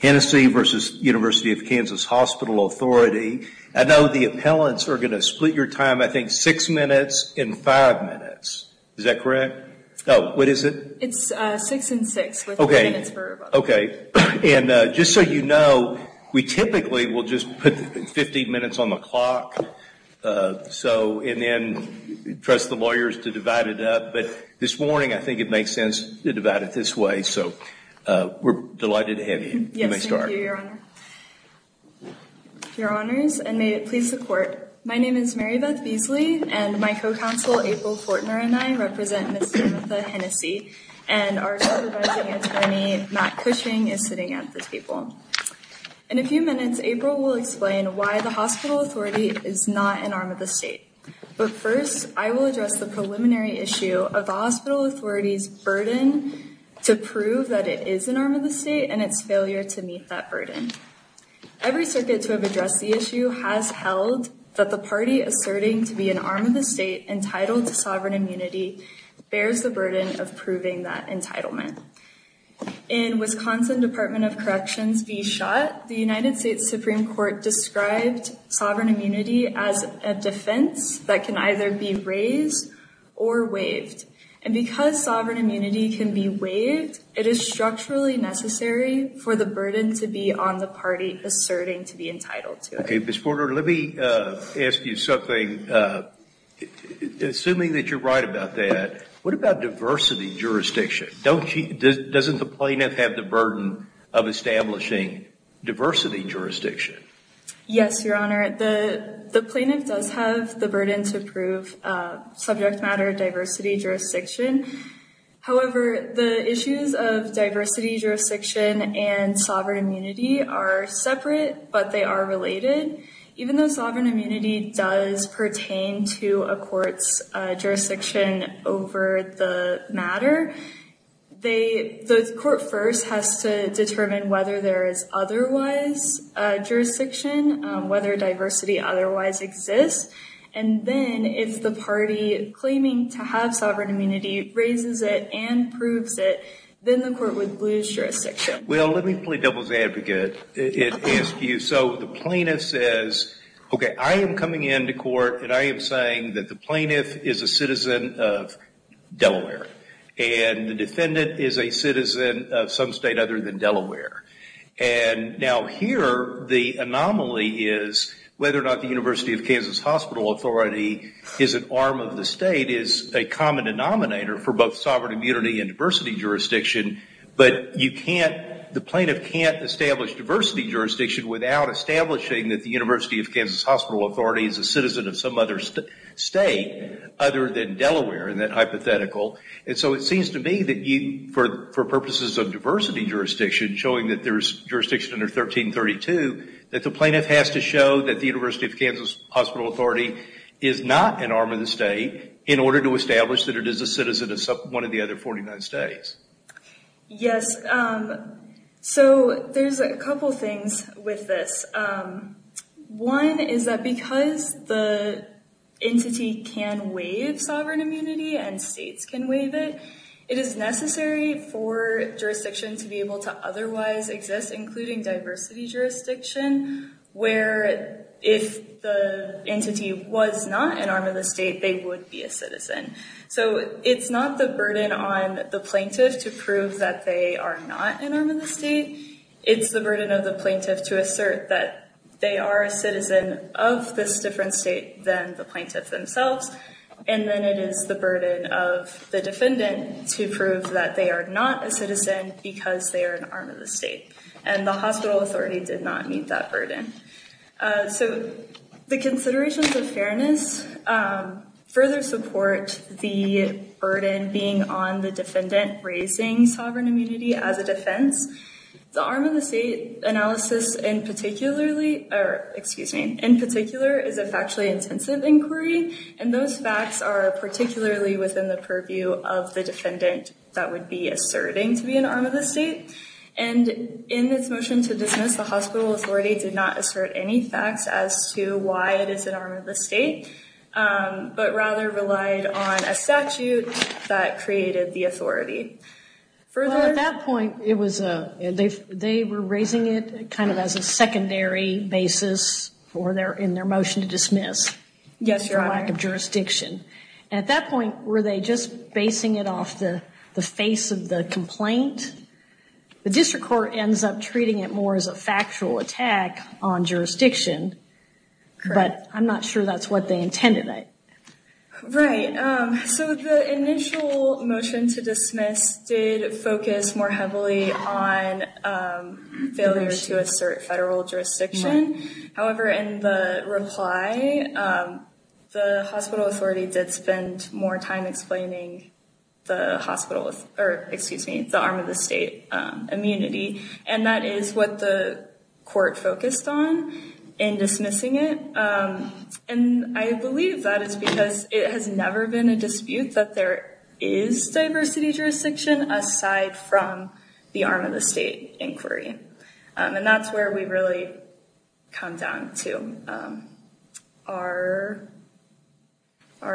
Hennessey v. University of Kansas Hospital Authority. I know the appellants are going to split your time, I think, six minutes and five minutes. Is that correct? Oh, what is it? It's six and six. Okay. And just so you know, we typically will just put 15 minutes on the clock and then trust the lawyers to divide it up, but this morning I think it went this way, so we're delighted to have you. You may start. Yes, thank you, Your Honor. Your Honors, and may it please the Court, my name is Marybeth Beasley, and my co-counsel April Fortner and I represent Ms. Jametha Hennessey, and our co-advising attorney, Matt Cushing, is sitting at the table. In a few minutes, April will explain why the hospital authority is not an arm of the state. But first, I will address the preliminary issue of the hospital authority's burden to prove that it is an arm of the state and its failure to meet that burden. Every circuit to have addressed the issue has held that the party asserting to be an arm of the state entitled to sovereign immunity bears the burden of proving that entitlement. In Wisconsin Department of Corrections v. Schott, the United States sovereign immunity can be waived, it is structurally necessary for the burden to be on the party asserting to be entitled to it. Okay, Ms. Fortner, let me ask you something. Assuming that you're right about that, what about diversity jurisdiction? Doesn't the plaintiff have the burden of establishing diversity jurisdiction? Yes, Your Honor, the plaintiff does have the burden of diversity jurisdiction. However, the issues of diversity jurisdiction and sovereign immunity are separate, but they are related. Even though sovereign immunity does pertain to a court's jurisdiction over the matter, the court first has to determine whether there is otherwise jurisdiction, whether diversity otherwise exists. And then if the party claiming to have sovereign immunity raises it and proves it, then the court would lose jurisdiction. Well, let me play devil's advocate and ask you. So the plaintiff says, okay, I am coming into court and I am saying that the plaintiff is a citizen of Delaware and the defendant is a citizen of some state other than Delaware. And now here, the anomaly is whether or not the University of Kansas Hospital Authority is an arm of the state is a common denominator for both sovereign immunity and diversity jurisdiction. But the plaintiff can't establish diversity jurisdiction without establishing that the University of Kansas Hospital Authority is a citizen of some other state other than Delaware in that hypothetical. And so it seems to me that for purposes of diversity jurisdiction, showing that there is jurisdiction under 1332, the plaintiff has to show that the University of Kansas Hospital Authority is not an arm of the state in order to establish that it is a citizen of one of the other 49 states. Yes. So there's a couple things with this. One is that because the entity can waive sovereign immunity and states can waive it, it is necessary for jurisdiction to be able to otherwise exist, including diversity jurisdiction, where if the entity was not an arm of the state, they would be a citizen. So it's not the burden on the plaintiff to prove that they are not an arm of the state. It's the burden of the plaintiff to assert that they are a citizen of this different state than the plaintiff themselves. And then it is the burden of the defendant to prove that they are not a citizen because they are an arm of the state. And the hospital authority did not meet that burden. So the considerations of fairness further support the burden being on the defendant raising sovereign immunity as a defense. The arm of the state analysis in particularly or excuse me, in particular is a factually intensive inquiry. And those facts are particularly within the purview of the defendant that would be asserting to be an arm of the state. And in this motion to dismiss, the hospital authority did not assert any facts as to why it is an arm of the state, but rather relied on a statute that created the authority. Further at that point, it was they were raising it kind of as a secondary basis for their in their motion to dismiss. Yes. For lack of jurisdiction. At that point, were they just basing it off the face of the complaint? The district court ends up treating it more as a factual attack on jurisdiction, but I'm not sure that's what they intended it. Right. So the initial motion to dismiss did in the reply, the hospital authority did spend more time explaining the hospital or excuse me, the arm of the state immunity. And that is what the court focused on in dismissing it. And I believe that is because it has never been a dispute that there is diversity jurisdiction aside from the arm of the state inquiry. And that's where we really come down to our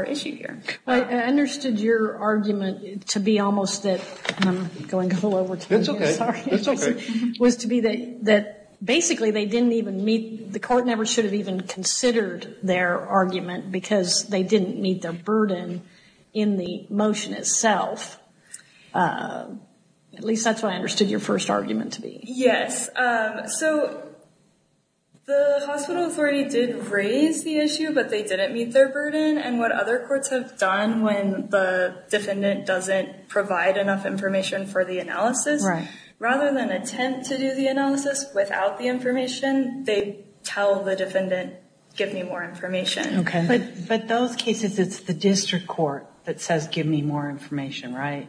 issue here. I understood your argument to be almost that I'm going a little over time. It's okay. It's okay. Was to be that basically they didn't even meet, the court never should have even considered their argument because they didn't meet their burden in the motion itself. At least that's what I understood your first argument to be. Yes. So the hospital authority did raise the issue, but they didn't meet their burden. And what other courts have done when the defendant doesn't provide enough information for the analysis, rather than attempt to do the analysis without the information, they tell the defendant, give me more information. Okay. But those cases, it's the district court that says, give me more information, right?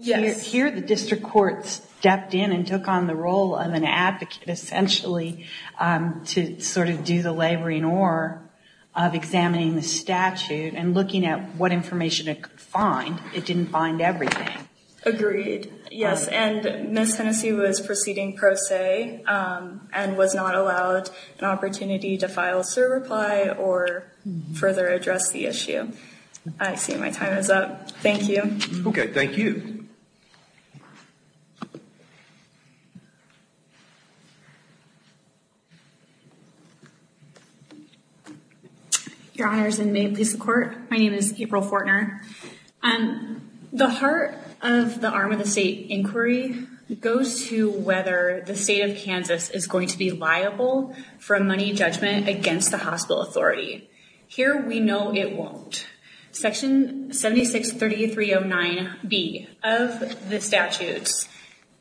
Yes. Here, the district court stepped in and took on the role of an advocate essentially to sort of do the laboring or of examining the statute and looking at what information it could find. It didn't find everything. Agreed. Yes. And Miss Hennessey was proceeding pro se and was not allowed an opportunity to reply or further address the issue. I see my time is up. Thank you. Okay. Thank you. Your honors and may peace of court. My name is April Fortner. The heart of the arm of the state inquiry goes to whether the state of Kansas is going to be liable for a money judgment against the hospital authority. Here, we know it won't. Section 76-3309 B of the statutes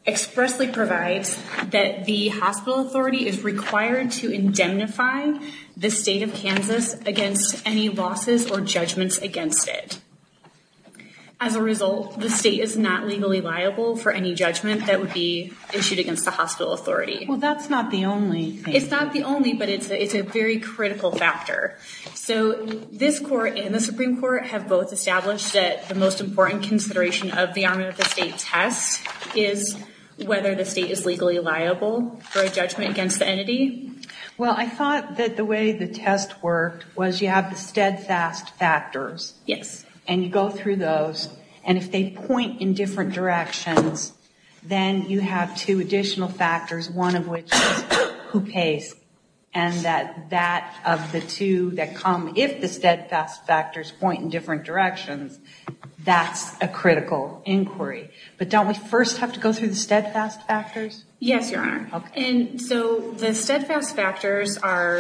expressly provides that the hospital authority is required to indemnify the state of Kansas against any losses or judgments against it. As a result, the state is not legally liable for any judgment that would be issued against the hospital authority. Well, that's not the only thing. It's not the only, but it's a very critical factor. So this court and the Supreme Court have both established that the most important consideration of the arm of the state test is whether the state is legally liable for a judgment against the entity. Well, I thought that the way the test worked was you have the steadfast factors. Yes. And you go through those. And if they point in different directions, then you have two additional factors, one of which is who pays. And that that of the two that come, if the steadfast factors point in different directions, that's a critical inquiry. But don't we first have to go through the steadfast factors? Yes, Your Honor. And so the steadfast factors are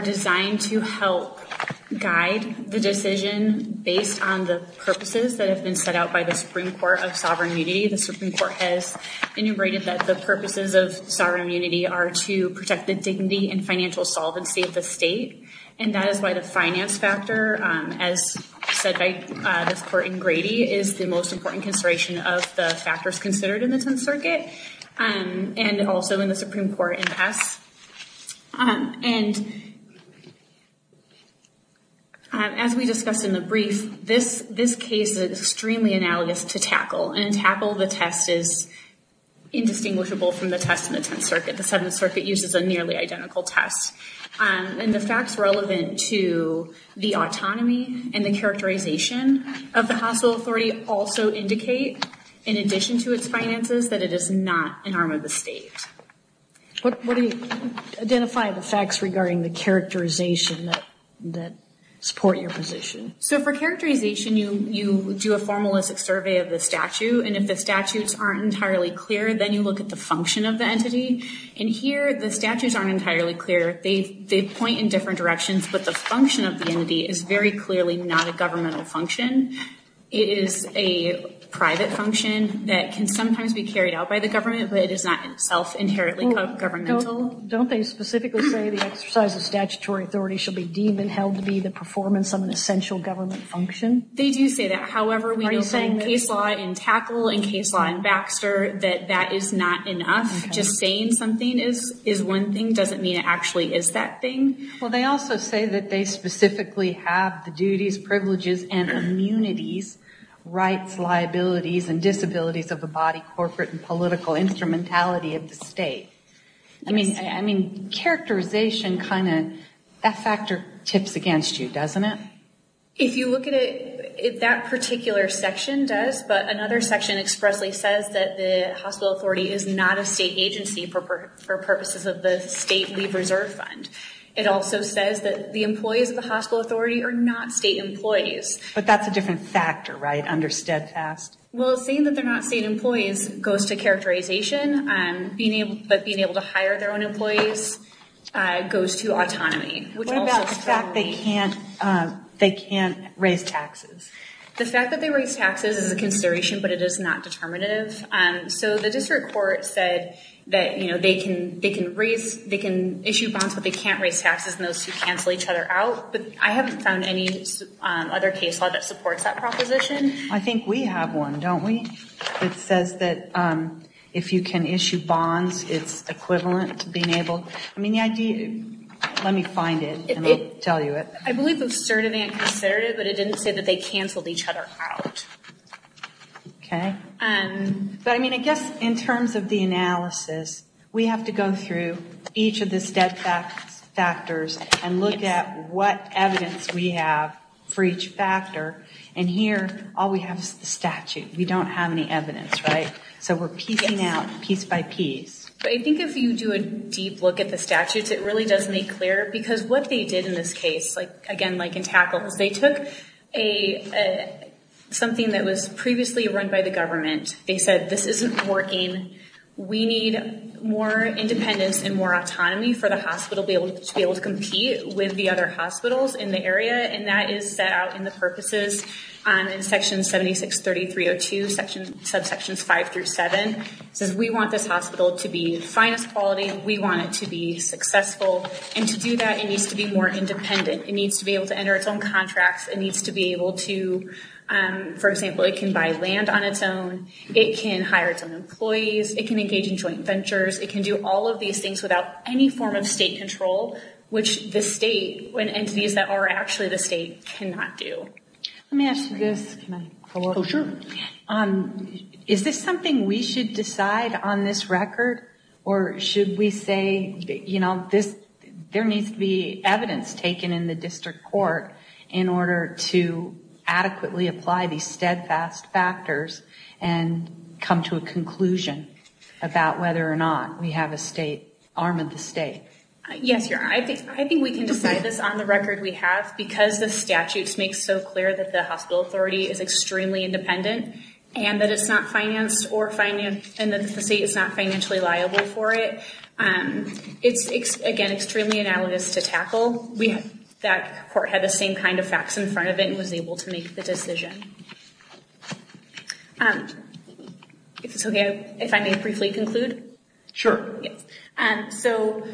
designed to help guide the decision based on the purposes that have been set out by the Supreme Court of Sovereign Unity. The Supreme Court has enumerated that the purposes of sovereign unity are to protect the dignity and financial solvency of the state. And that is why the finance factor, as said by this court in Grady, is the most important consideration of the factors considered in the Tenth Circuit and also in the Supreme Court in pass. And as we discussed in the brief, this case is extremely analogous to tackle. And in tackle, the test is indistinguishable from the test in the Tenth Circuit. The Seventh Circuit uses a nearly identical test. And the facts relevant to the autonomy and the characterization of the hospital authority also indicate, in addition to its finances, that it is not an arm of the state. What do you identify the facts regarding the characterization that support your position? So for characterization, you do a formalistic survey of the statute. And if the statutes aren't entirely clear, then you look at the function of the entity. And here, the statutes aren't entirely clear. They point in different directions, but the function of the entity is very clearly not a governmental function. It is a private function that can sometimes be carried out by the government, but it is not in itself inherently governmental. Don't they specifically say the exercise of statutory authority should be deemed and held to be the performance of an essential government function? They do say that. However, we do say in case law in tackle and case law in Baxter that that is not enough. Just saying something is one thing doesn't mean it actually is that thing. Well, they also say that they specifically have the duties, privileges, and immunities, rights, liabilities, and disabilities of the body, corporate, and political instrumentality of the state. I mean, characterization kind of, that factor tips against you, doesn't it? If you look at it, that particular section does, but another section expressly says that the hospital authority is not a state agency for purposes of the state leave reserve fund. It also says that the employees of the hospital authority are not state employees. But that's a different factor, right, under steadfast? Well, saying that they're not state employees goes to characterization, but being able to hire their own employees goes to autonomy. What about the fact they can't raise taxes? The fact that they raise taxes is a consideration, but it is not determinative. So the district court said that they can issue bonds, but they can't raise taxes, and those two cancel each other out, but I haven't found any other case law that supports that proposition. I think we have one, don't we? It says that if you can issue bonds, it's equivalent to being able, I mean, the idea, let me find it and I'll tell you it. I believe it's certainly a considerative, but it didn't say that they canceled each other out. Okay, but I mean, I guess in terms of the analysis, we have to go through each of the steadfast factors and look at what evidence we have for each factor. And here, all we have is the statute. We don't have any evidence, right? So we're piecing out piece by piece. I think if you do a deep look at the statutes, it really does make clear, because what they did in this case, again, like in tackles, they took something that was previously run by the government. They said, this isn't working. We need more independence and more autonomy for the hospital to be able to compete with the other hospitals in the area. And that is set out in the purposes in section 76-3302, subsections five through seven. It says we want this hospital to be the finest quality. We want it to be successful. And to do that, it needs to be more independent. It needs to be able to enter its own contracts. It needs to be able to, for example, it can buy land on its own. It can hire its own employees. It can engage in joint ventures. It can do all of these things without any form of state control, which the state, when entities that are actually the state, cannot do. Let me ask you this. Is this something we should decide on this record? Or should we say, you know, there needs to be evidence taken in the district court in order to adequately apply these steadfast factors and come to a conclusion about whether or not we have a state arm of the state? Yes, Your Honor. I think we can decide this on the record we have because the statutes make so clear that the hospital authority is extremely independent and that it's not financed or that the state is not financially liable for it. It's, again, extremely analogous to tackle. That court had the same kind of facts in front of it and was able to make the decision. If it's okay, if I may briefly conclude. Sure. So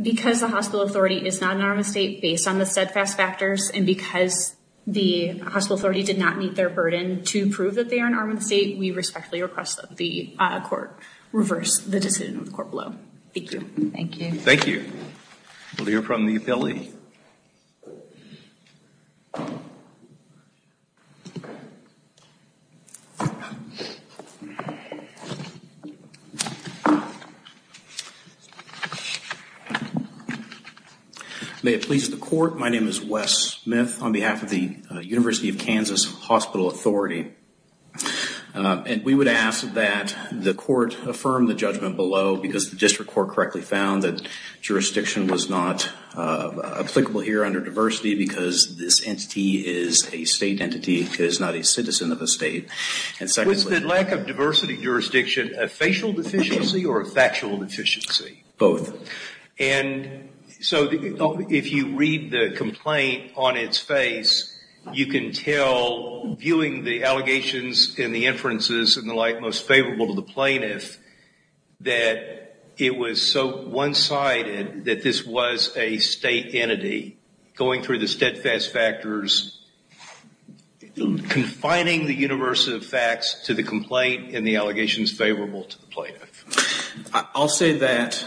because the hospital authority is not an arm of the state based on the steadfast factors and because the hospital authority did not meet their burden to prove that they are an arm of the state, we respectfully request that the court reverse the decision of the court below. Thank you. Thank you. Thank you. We'll hear from the appellee. May it please the court. My name is Wes Smith on behalf of the University of Kansas Hospital Authority. And we would ask that the court affirm the judgment below because the district court correctly found that jurisdiction was not applicable here under diversity because this entity is a state entity. It is not a citizen of a state. And secondly... Was the lack of diversity jurisdiction a facial deficiency or a factual deficiency? Both. And so if you read the complaint on its face, you can tell viewing the allegations and the inferences and the like most favorable to the plaintiff that it was so one-sided that this was a state entity going through the steadfast factors, confining the universe of facts to the complaint and the allegations favorable to the plaintiff. I'll say that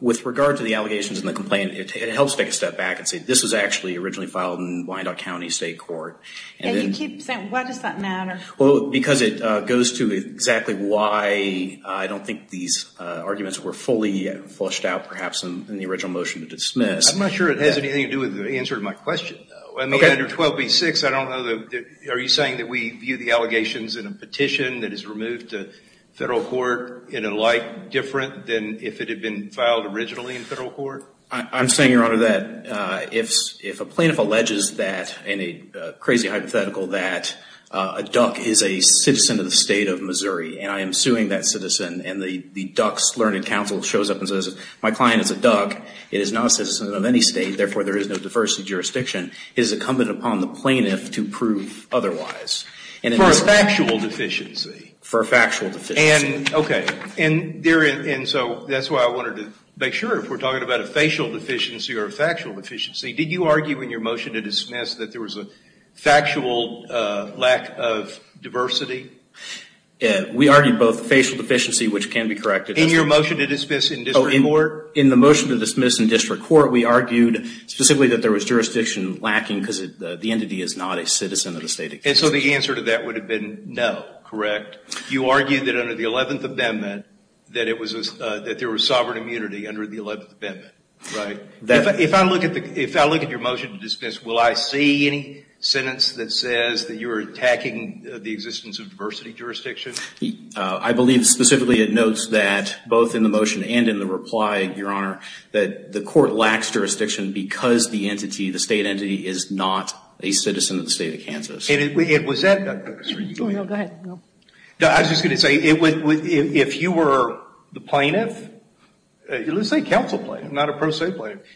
with regard to the allegations and the complaint, it helps take a step back and say this was actually originally filed in Wyandotte County State Court. And you keep saying, why does that matter? Well, because it goes to exactly why I don't think these arguments were fully flushed out perhaps in the original motion to dismiss. I'm not sure it has anything to do with the answer to my question though. I mean, under 12B-6, I don't know that... Are you saying that we view the allegations in a petition that is removed to federal court in a light different than if it had been filed originally in federal court? I'm saying, Your Honor, that if a plaintiff alleges that in a crazy hypothetical that a duck is a citizen of the state of Missouri, and I am suing that citizen, and the duck's learned counsel shows up and says, my client is a duck, it is not a citizen of any state, therefore there is no diversity jurisdiction, it is incumbent upon the plaintiff to prove otherwise. For a factual deficiency. For a factual deficiency. Okay. And so that's why I wanted to make sure if we're talking about a facial deficiency or a factual deficiency, did you argue in your motion to dismiss that there was a factual lack of diversity? We argued both facial deficiency, which can be corrected. In your motion to dismiss in district court? In the motion to dismiss in district court, we argued specifically that there was jurisdiction lacking because the entity is not a citizen of the state. And so the answer to that would have been no, correct? You argued that under the 11th Amendment that there was sovereign immunity under the 11th Amendment, right? If I look at your motion to dismiss, will I see any sentence that says that you're attacking the existence of diversity jurisdiction? I believe specifically it notes that both in the motion and in the reply, Your Honor, that the court lacks jurisdiction because the entity, the state entity, is not a citizen of the state of Kansas. And was that, Dr. Kucinich? Go ahead. I was just going to say, if you were the plaintiff, let's say counsel plaintiff, not a pro se plaintiff,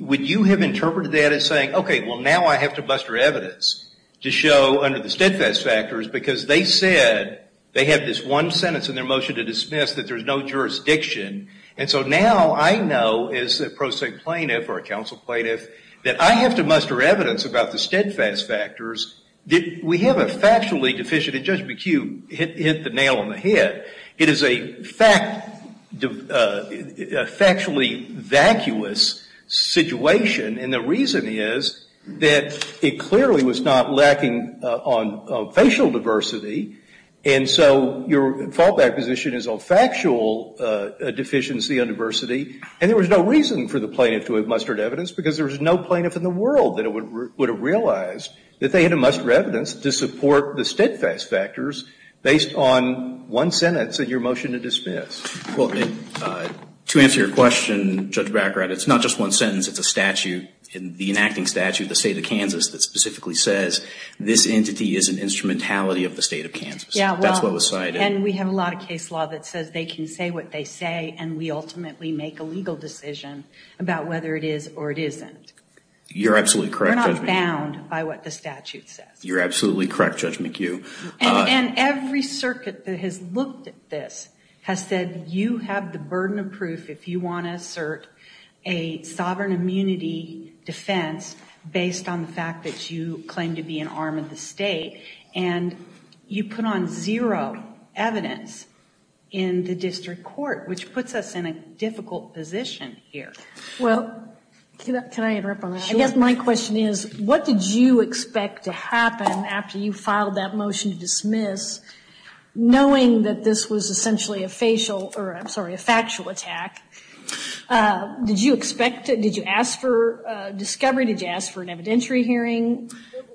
would you have interpreted that as saying, OK, well, now I have to muster evidence to show under the steadfast factors because they said they had this one sentence in their motion to dismiss that there's no jurisdiction. And so now I know as a pro se plaintiff or a counsel plaintiff that I have to muster evidence about the steadfast factors that we have a factually deficient. And Judge McHugh hit the nail on the head. It is a factually vacuous situation. And the reason is that it clearly was not lacking on facial diversity. And so your fallback position is on factual deficiency on diversity. And there was no reason for the plaintiff to have mustered evidence because there was no plaintiff in the world that would have realized that they had to muster evidence to support the steadfast factors based on one sentence in your motion to dismiss. Well, to answer your question, Judge Baccarat, it's not just one sentence. It's a statute, the enacting statute of the state of Kansas that specifically says this entity is an instrumentality of the state of Kansas. That's what was cited. And we have a lot of case law that says they can say what they say. And we ultimately make a legal decision about whether it is or it isn't. You're absolutely correct, Judge McHugh. We're not bound by what the statute says. You're absolutely correct, Judge McHugh. And every circuit that has looked at this has said you have the burden of proof if you want to assert a sovereign immunity defense based on the fact that you claim to be an arm of the state. And you put on zero evidence in the district court, which puts us in a difficult position here. Well, can I interrupt on that? I guess my question is, what did you expect to happen after you filed that motion to dismiss, knowing that this was essentially a facial, or I'm sorry, a factual attack? Did you expect it? Did you ask for discovery? Did you ask for an evidentiary hearing?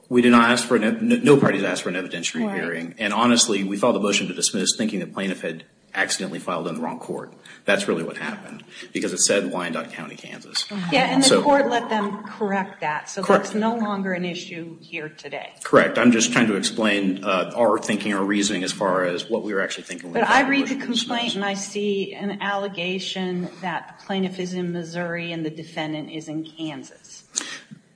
We did not ask for, no parties asked for an evidentiary hearing. And honestly, we filed a motion to dismiss thinking the plaintiff had accidentally filed in the wrong court. That's really what happened. Because it said Wyandotte County, Kansas. Yeah, and the court let them correct that. So that's no longer an issue here today. Correct. I'm just trying to explain our thinking or reasoning as far as what we were actually thinking. But I read the complaint and I see an allegation that the plaintiff is in Missouri and the defendant is in Kansas.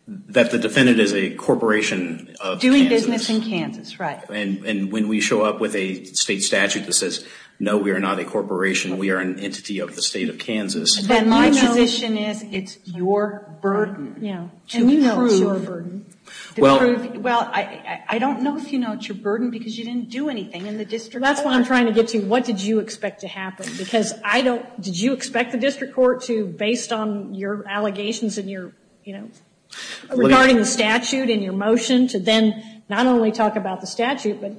That the defendant is a corporation of Kansas. Doing business in Kansas, right. And when we show up with a state statute that says, no, we are not a corporation, we are an entity of the state of Kansas. But my position is it's your burden. Yeah. And you know it's your burden. Well, I don't know if you know it's your burden because you didn't do anything in the district court. That's what I'm trying to get to. What did you expect to happen? Because I don't, did you expect the district court to, based on your allegations and your, you know, regarding the statute and your motion, to then not only talk about the statute, but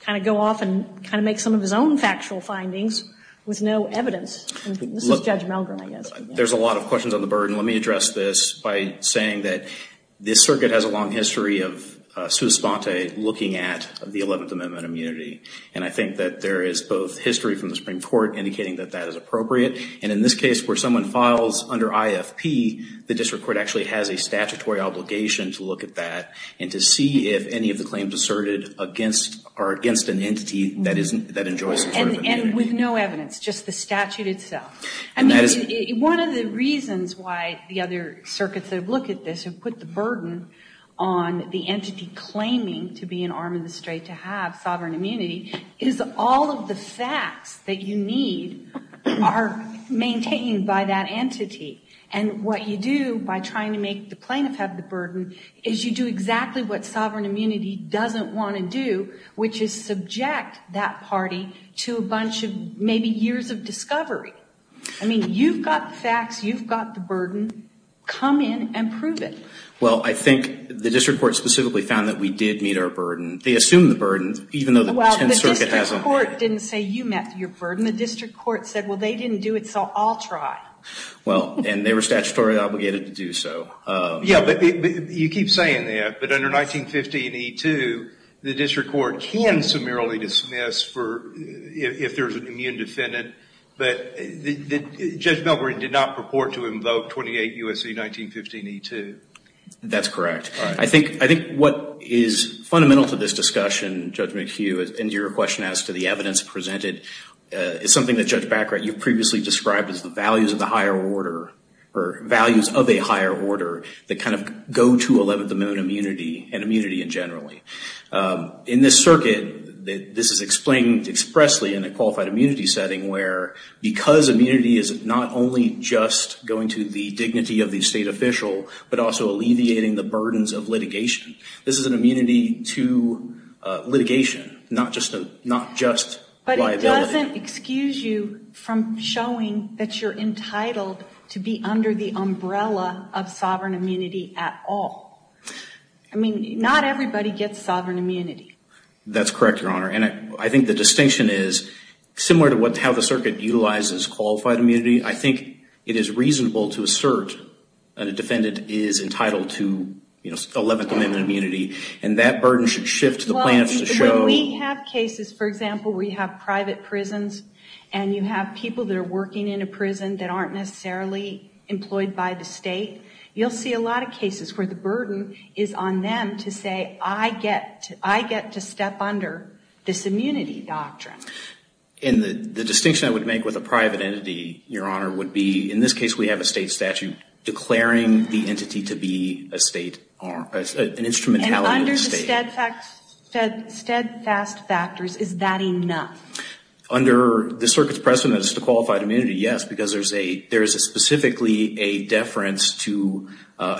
kind of go off and kind of make some of his own factual findings with no evidence? There's a lot of questions on the burden. Let me address this by saying that this circuit has a long history of sua sponte looking at the 11th Amendment immunity. And I think that there is both history from the Supreme Court indicating that that is appropriate. And in this case, where someone files under IFP, the district court actually has a statutory obligation to look at that and to see if any of the claims asserted against, are against an entity that enjoys some sort of immunity. And with no evidence, just the statute itself. And that is one of the reasons why the other circuits that have looked at this have put the burden on the entity claiming to be an arm of the state to have sovereign immunity is all of the facts that you need are maintained by that entity. And what you do by trying to make the plaintiff have the burden is you do exactly what maybe years of discovery. I mean, you've got the facts. You've got the burden. Come in and prove it. Well, I think the district court specifically found that we did meet our burden. They assumed the burden, even though the 10th Circuit hasn't. Well, the district court didn't say you met your burden. The district court said, well, they didn't do it, so I'll try. Well, and they were statutorily obligated to do so. Yeah, but you keep saying that. Under 1915E2, the district court can summarily dismiss if there's an immune defendant. But Judge Belgren did not purport to invoke 28 U.S.C. 1915E2. That's correct. I think what is fundamental to this discussion, Judge McHugh, and your question as to the evidence presented, is something that Judge Baccarat, you previously described as the values of the higher order, or values of a higher order, that kind of go to 11th Amendment immunity, and immunity in general. In this circuit, this is explained expressly in a qualified immunity setting, where because immunity is not only just going to the dignity of the state official, but also alleviating the burdens of litigation. This is an immunity to litigation, not just liability. It doesn't excuse you from showing that you're entitled to be under the umbrella of sovereign immunity at all. I mean, not everybody gets sovereign immunity. That's correct, Your Honor. And I think the distinction is, similar to how the circuit utilizes qualified immunity, I think it is reasonable to assert that a defendant is entitled to 11th Amendment immunity, and that burden should shift to the plaintiffs to show- When we have cases, for example, where you have private prisons, and you have people that are working in a prison that aren't necessarily employed by the state, you'll see a lot of cases where the burden is on them to say, I get to step under this immunity doctrine. And the distinction I would make with a private entity, Your Honor, would be, in this case, we have a state statute declaring the entity to be an instrumentality of the state. Steadfast factors, is that enough? Under the circuit's precedent as to qualified immunity, yes, because there is specifically a deference to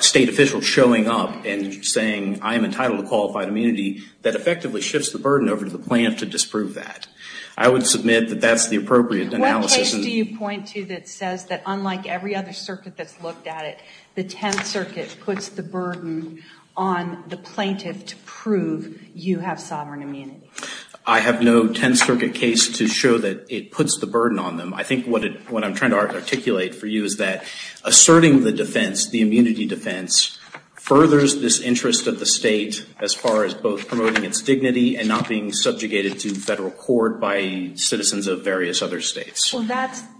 state officials showing up and saying, I am entitled to qualified immunity, that effectively shifts the burden over to the plaintiff to disprove that. I would submit that that's the appropriate analysis- What case do you point to that says that, unlike every other circuit that's looked at it, the Tenth Circuit puts the burden on the plaintiff to prove you have sovereign immunity? I have no Tenth Circuit case to show that it puts the burden on them. I think what I'm trying to articulate for you is that asserting the defense, the immunity defense, furthers this interest of the state as far as both promoting its dignity and not being subjugated to federal court by citizens of various other states.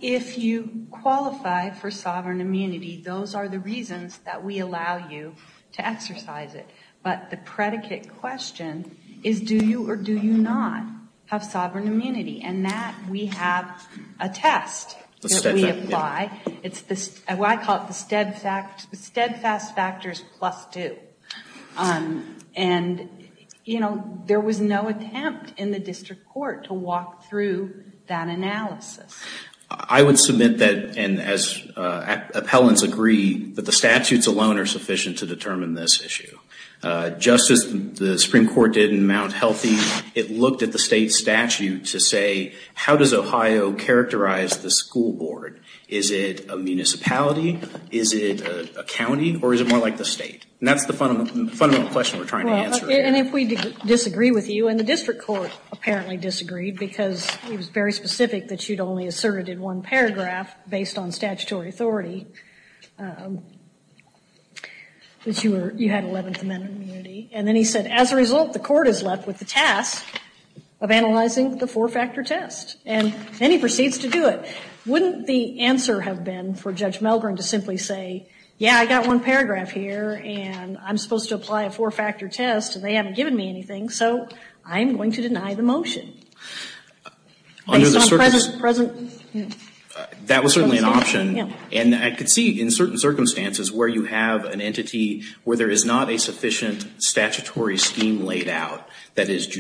If you qualify for sovereign immunity, those are the reasons that we allow you to exercise it. But the predicate question is, do you or do you not have sovereign immunity? And that we have a test that we apply. It's what I call the steadfast factors plus two. And there was no attempt in the district court to walk through that analysis. I would submit that, and as appellants agree, that the statutes alone are sufficient to determine this issue. Just as the Supreme Court did in Mount Healthy, it looked at the state statute to say, how does Ohio characterize the school board? Is it a municipality? Is it a county? Or is it more like the state? And that's the fundamental question we're trying to answer here. And if we disagree with you, and the district court apparently disagreed because it was very specific that you'd only asserted in one paragraph, based on statutory authority, that you had 11th Amendment immunity. And then he said, as a result, the court is left with the task of analyzing the four-factor test. And then he proceeds to do it. Wouldn't the answer have been for Judge Melgren to simply say, yeah, I got one paragraph here, and I'm supposed to apply a four-factor test, and they haven't given me anything, so I'm going to deny the motion. Under the circumstances- Present. That was certainly an option. And I could see, in certain circumstances, where you have an entity where there is not a sufficient statutory scheme laid out that is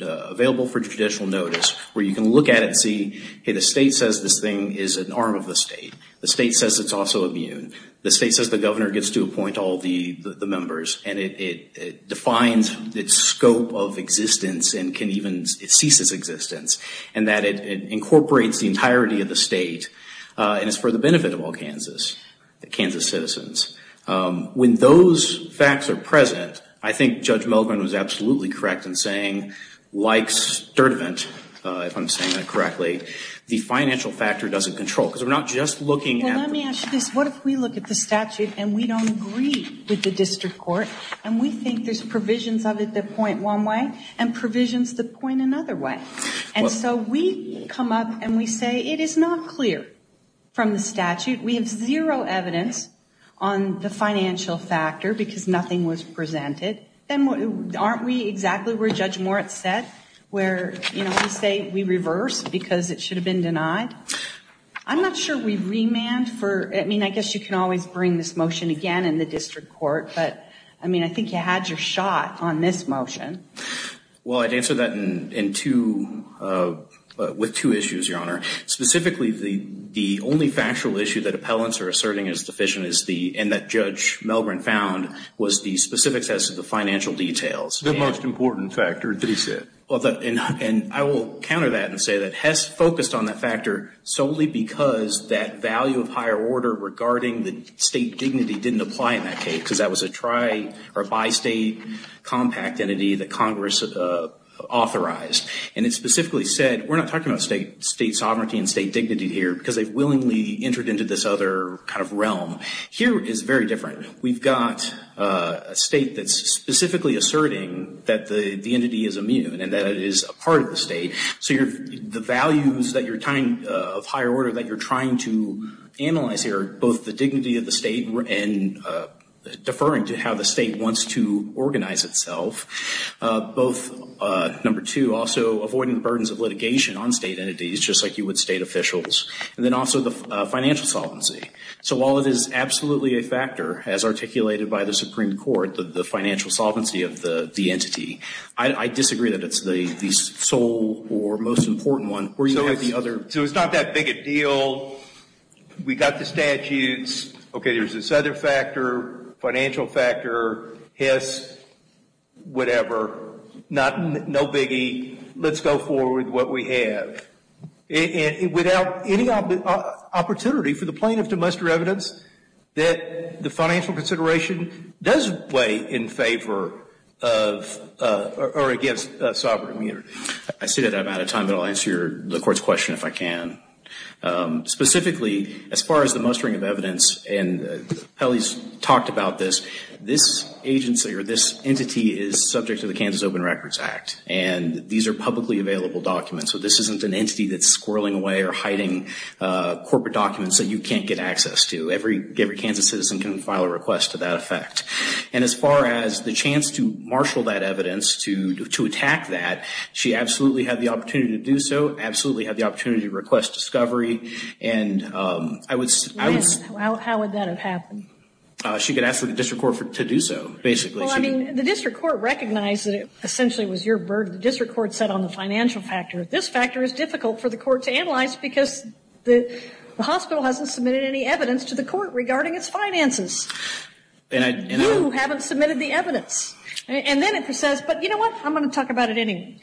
available for judicial notice, where you can look at it and see, hey, the state says this thing is an arm of the state. The state says it's also immune. The state says the governor gets to appoint all the members. And it defines its scope of existence and can even cease its existence. And that it incorporates the entirety of the state, and it's for the benefit of all Kansas citizens. When those facts are present, I think Judge Melgren was absolutely correct in saying, like Sturtevant, if I'm saying that correctly, the financial factor doesn't control. Because we're not just looking at- Well, let me ask you this. What if we look at the statute, and we don't agree with the district court, and we think there's provisions of it that point one way, and provisions that point another way? And so we come up and we say it is not clear from the statute. We have zero evidence on the financial factor because nothing was presented. Then aren't we exactly where Judge Moritz said, where we say we reverse because it should have been denied? I'm not sure we remand for- I mean, I guess you can always bring this motion again in the district court. But I mean, I think you had your shot on this motion. Well, I'd answer that with two issues, Your Honor. Specifically, the only factual issue that appellants are asserting is deficient, and that Judge Melgren found, was the specifics as to the financial details. The most important factor that he said. Well, and I will counter that and say that Hess focused on that factor solely because that value of higher order regarding the state dignity didn't apply in that case. Because that was a tri- or bi-state compact entity that Congress authorized. And it specifically said, we're not talking about state sovereignty and state dignity here because they've willingly entered into this other kind of realm. Here is very different. We've got a state that's specifically asserting that the entity is immune and that it is a part of the state. So the values that you're tying of higher order that you're trying to analyze here, both the dignity of the state and deferring to how the state wants to organize itself. Both, number two, also avoiding the burdens of litigation on state entities, just like you would state officials. And then also the financial solvency. So while it is absolutely a factor, as articulated by the Supreme Court, the financial solvency of the entity, I disagree that it's the sole or most important one. Or you have the other. So it's not that big a deal. We've got the statutes. OK, there's this other factor, financial factor, Hiss, whatever. No biggie. Let's go forward with what we have. Without any opportunity for the plaintiff to muster evidence that the financial consideration does weigh in favor of or against sovereign immunity. I see that I'm out of time, but I'll answer the Court's question if I can. Specifically, as far as the mustering of evidence, and Pelley's talked about this, this agency or this entity is subject to the Kansas Open Records Act. And these are publicly available documents. So this isn't an entity that's squirreling away or hiding corporate documents that you can't get access to. Every Kansas citizen can file a request to that effect. And as far as the chance to marshal that evidence, to attack that, she absolutely had the opportunity to do so, absolutely had the opportunity to request discovery. And I would... How would that have happened? She could ask for the district court to do so, basically. Well, I mean, the district court recognized that it essentially was your burden. The district court set on the financial factor. This factor is difficult for the court to analyze because the hospital hasn't submitted any evidence to the court regarding its finances. You haven't submitted the evidence. And then it says, but you know what, I'm going to talk about it anyway.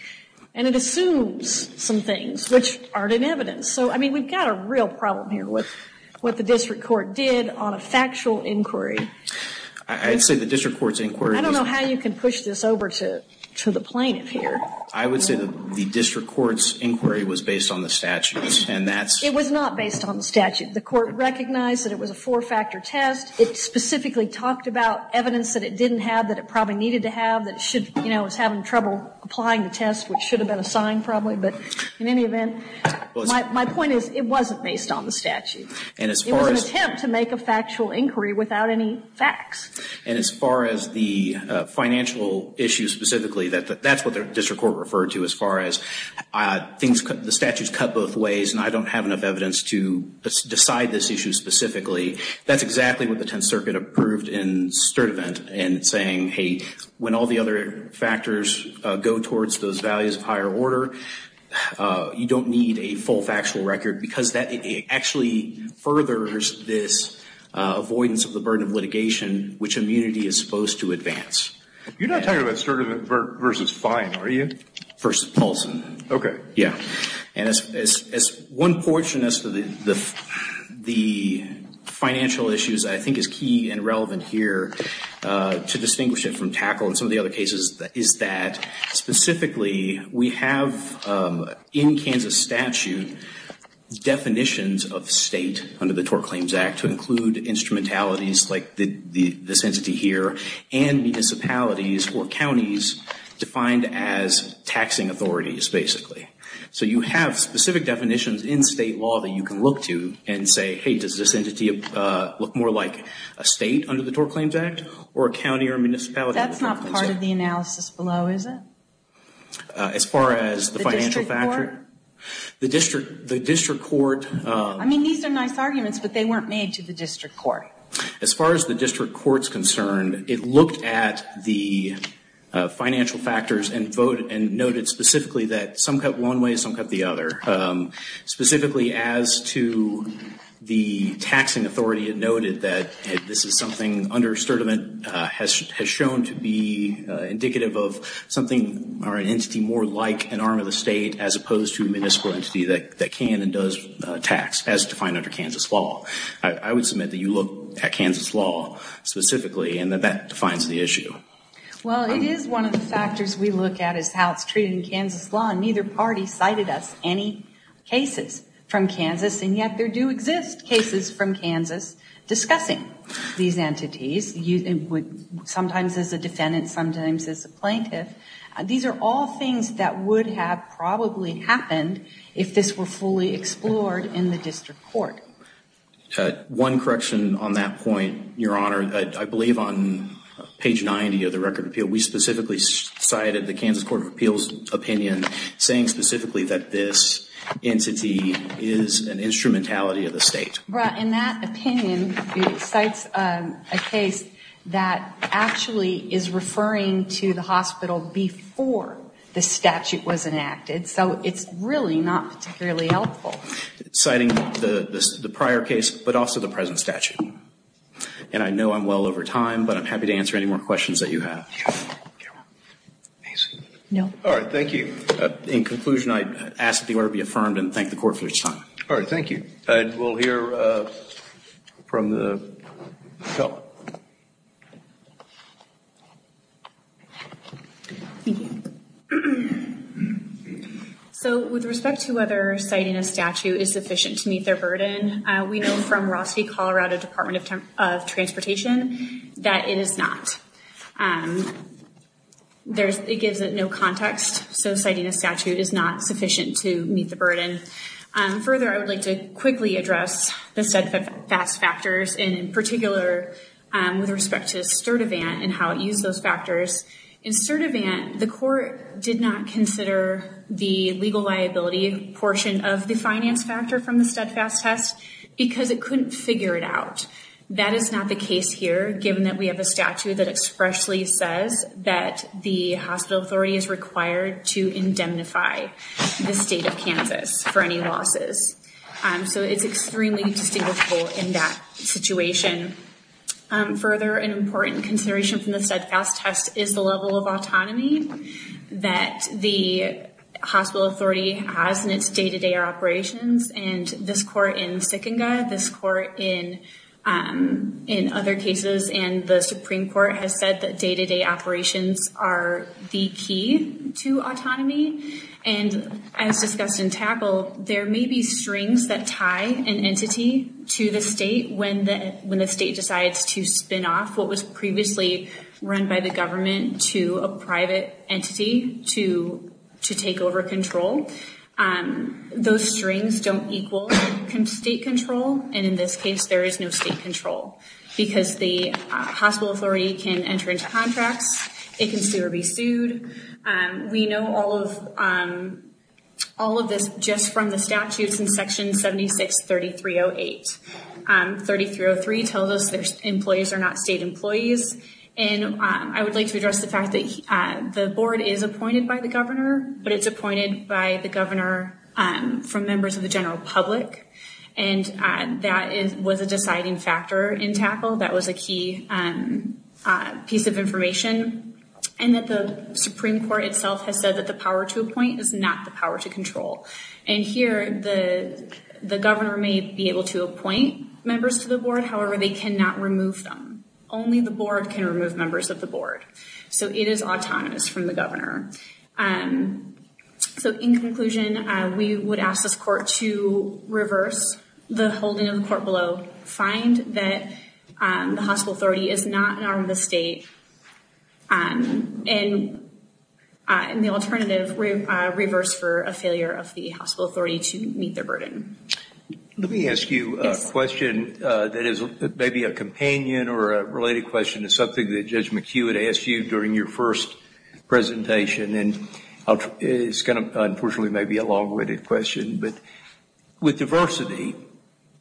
And it assumes some things which aren't in evidence. So, I mean, we've got a real problem here with what the district court did on a factual inquiry. I'd say the district court's inquiry... I don't know how you can push this over to the plaintiff here. I would say that the district court's inquiry was based on the statutes. And that's... It was not based on the statute. The court recognized that it was a four-factor test. It specifically talked about evidence that it didn't have, that it probably needed to have, you know, it was having trouble applying the test, which should have been assigned probably. But in any event, my point is it wasn't based on the statute. And as far as... It was an attempt to make a factual inquiry without any facts. And as far as the financial issue specifically, that's what the district court referred to as far as the statute's cut both ways and I don't have enough evidence to decide this issue specifically. That's exactly what the Tenth Circuit approved in Sturtevant in saying, when all the other factors go towards those values of higher order, you don't need a full factual record because that actually furthers this avoidance of the burden of litigation which immunity is supposed to advance. You're not talking about Sturtevant versus fine, are you? Versus Paulson. Okay. Yeah. And as one portion as to the financial issues, I think is key and relevant here to distinguish it from TACL and some of the other cases is that specifically we have in Kansas statute definitions of state under the Tort Claims Act to include instrumentalities like this entity here and municipalities or counties defined as taxing authorities basically. So you have specific definitions in state law that you can look to and say, hey, does this entity look more like a state under the Tort Claims Act or a county or municipality? That's not part of the analysis below, is it? As far as the financial factor. The district court. I mean, these are nice arguments, but they weren't made to the district court. As far as the district court's concerned, it looked at the financial factors and voted and noted specifically that some cut one way, some cut the other. Specifically as to the taxing authority, it noted that this is something under Sturdivant has shown to be indicative of something or an entity more like an arm of the state as opposed to a municipal entity that can and does tax as defined under Kansas law. I would submit that you look at Kansas law specifically and that defines the issue. Well, it is one of the factors we look at is how it's treated in Kansas law and neither party cited us any cases from Kansas. And yet there do exist cases from Kansas discussing these entities. Sometimes as a defendant, sometimes as a plaintiff. These are all things that would have probably happened if this were fully explored in the district court. One correction on that point, Your Honor. I believe on page 90 of the Record of Appeal, we specifically cited the Kansas Court of Appeals saying specifically that this entity is an instrumentality of the state. But in that opinion, it cites a case that actually is referring to the hospital before the statute was enacted. So it's really not particularly helpful. Citing the prior case, but also the present statute. And I know I'm well over time, but I'm happy to answer any more questions that you have. All right, thank you. In conclusion, I ask the order be affirmed and thank the court for its time. All right, thank you. I will hear from the felon. Thank you. So with respect to whether citing a statute is sufficient to meet their burden, we know from Rossview, Colorado Department of Transportation that it is not. And it gives it no context. So citing a statute is not sufficient to meet the burden. Further, I would like to quickly address the steadfast factors. And in particular, with respect to Sturdivant and how it used those factors. In Sturdivant, the court did not consider the legal liability portion of the finance factor from the steadfast test because it couldn't figure it out. That is not the case here, given that we have a statute that expressly says that the hospital authority is required to indemnify the state of Kansas for any losses. So it's extremely distinguishable in that situation. Further, an important consideration from the steadfast test is the level of autonomy that the hospital authority has in its day-to-day operations. And this court in Sykinga, this court in other cases, and the Supreme Court, has said that day-to-day operations are the key to autonomy. And as discussed in Tackle, there may be strings that tie an entity to the state when the state decides to spin off what was previously run by the government to a private entity to take over control. And those strings don't equal state control. And in this case, there is no state control because the hospital authority can enter into contracts. It can sue or be sued. We know all of this just from the statutes in Section 76-3308. 3303 tells us that employees are not state employees. And I would like to address the fact that the board is appointed by the governor, but it's appointed by the governor from members of the general public. And that was a deciding factor in Tackle. That was a key piece of information. And that the Supreme Court itself has said that the power to appoint is not the power to control. And here, the governor may be able to appoint members to the board. However, they cannot remove them. Only the board can remove members of the board. So it is autonomous from the governor. So in conclusion, we would ask this court to reverse the holding of the court below, find that the hospital authority is not an arm of the state, and the alternative, reverse for a failure of the hospital authority to meet their burden. Let me ask you a question that is maybe a companion or a related question to something that Judge McHugh had asked you during your first presentation. And it's going to, unfortunately, may be a long-winded question. But with diversity,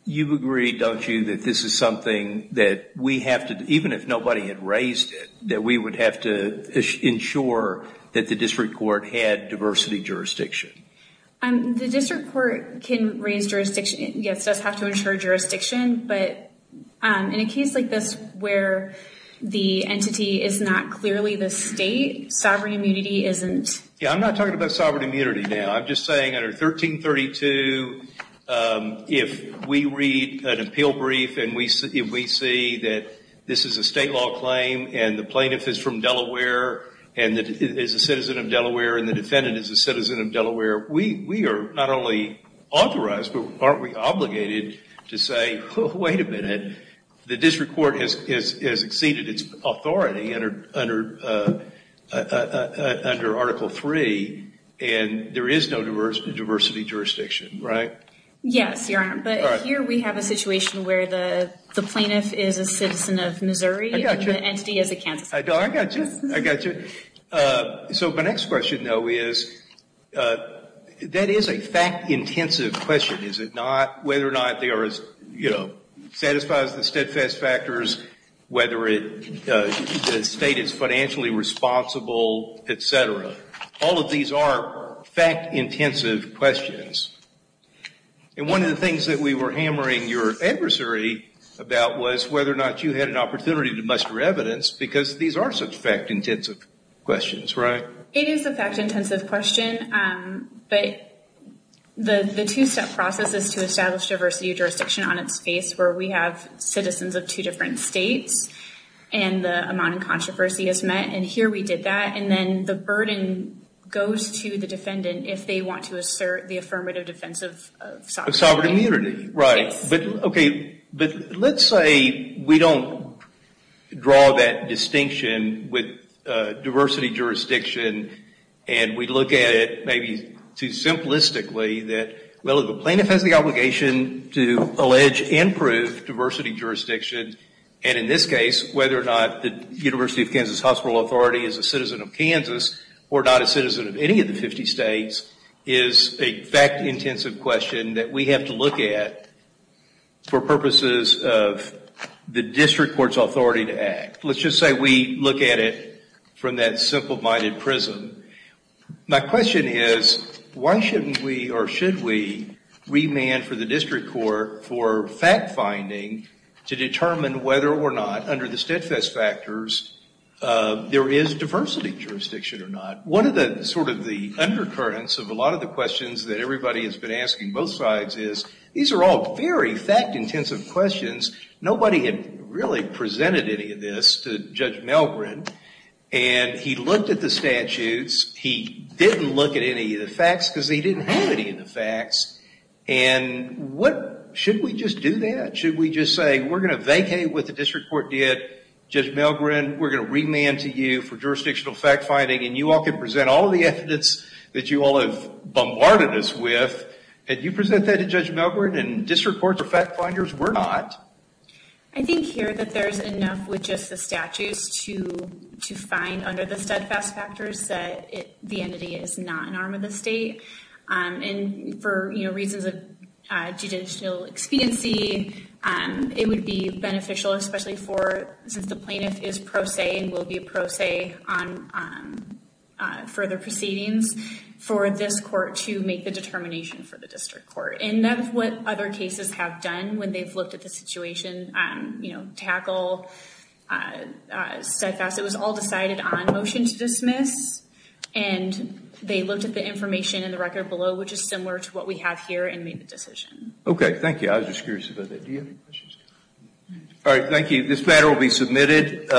you've agreed, don't you, that this is something that we have to, even if nobody had raised it, that we would have to ensure that the district court had diversity jurisdiction? The district court can raise jurisdiction. Yes, it does have to ensure jurisdiction. But in a case like this where the entity is not clearly the state, sovereign immunity isn't. Yeah, I'm not talking about sovereign immunity now. I'm just saying under 1332, if we read an appeal brief and we see that this is a state law claim and the plaintiff is from Delaware and is a citizen of Delaware and the defendant is a citizen of Delaware, we are not only authorized, but aren't we obligated to say, wait a minute, the district court has exceeded its authority under Article III and there is no diversity jurisdiction, right? Yes, Your Honor. But here we have a situation where the plaintiff is a citizen of Missouri and the entity is a Kansas citizen. I got you. I got you. So my next question, though, is that is a fact-intensive question, is it not, whether or not they are, you know, satisfies the steadfast factors, whether the state is financially responsible, et cetera. All of these are fact-intensive questions. And one of the things that we were hammering your adversary about was whether or not you had an opportunity to muster evidence because these are such fact-intensive questions, right? It is a fact-intensive question, but the two-step process is to establish diversity of jurisdiction on its face where we have citizens of two different states and the amount of controversy is met, and here we did that, and then the burden goes to the defendant if they want to assert the affirmative defense of sovereign immunity. Right. But, okay, but let's say we don't draw that distinction with diversity of jurisdiction and we look at it maybe too simplistically that, well, if a plaintiff has the obligation to allege and prove diversity of jurisdiction, and in this case, whether or not the University of Kansas Hospital Authority is a citizen of Kansas or not a citizen of any of the 50 states is a fact-intensive question that we have to look at for purposes of the district court's authority to act. Let's just say we look at it from that simple-minded prism. My question is, why shouldn't we or should we remand for the district court for fact finding to determine whether or not, under the steadfast factors, there is diversity of jurisdiction or not? One of the undercurrents of a lot of the questions that everybody has been asking both sides is, these are all very fact-intensive questions. Nobody had really presented any of this to Judge Melgrin, and he looked at the statutes. He didn't look at any of the facts because he didn't have any of the facts. And should we just do that? Should we just say, we're going to vacate what the district court did. Judge Melgrin, we're going to remand to you for jurisdictional fact finding and you all can present all of the evidence that you all have bombarded us with. Had you presented that to Judge Melgrin and district court fact finders were not? I think here that there's enough with just the statutes to find under the steadfast factors that the entity is not an arm of the state. And for reasons of judicial expediency, it would be beneficial, especially since the further proceedings, for this court to make the determination for the district court. And that's what other cases have done when they've looked at the situation. You know, tackle, steadfast. It was all decided on motion to dismiss. And they looked at the information in the record below, which is similar to what we have here and made the decision. Okay, thank you. I was just curious about that. All right, thank you. This matter will be submitted.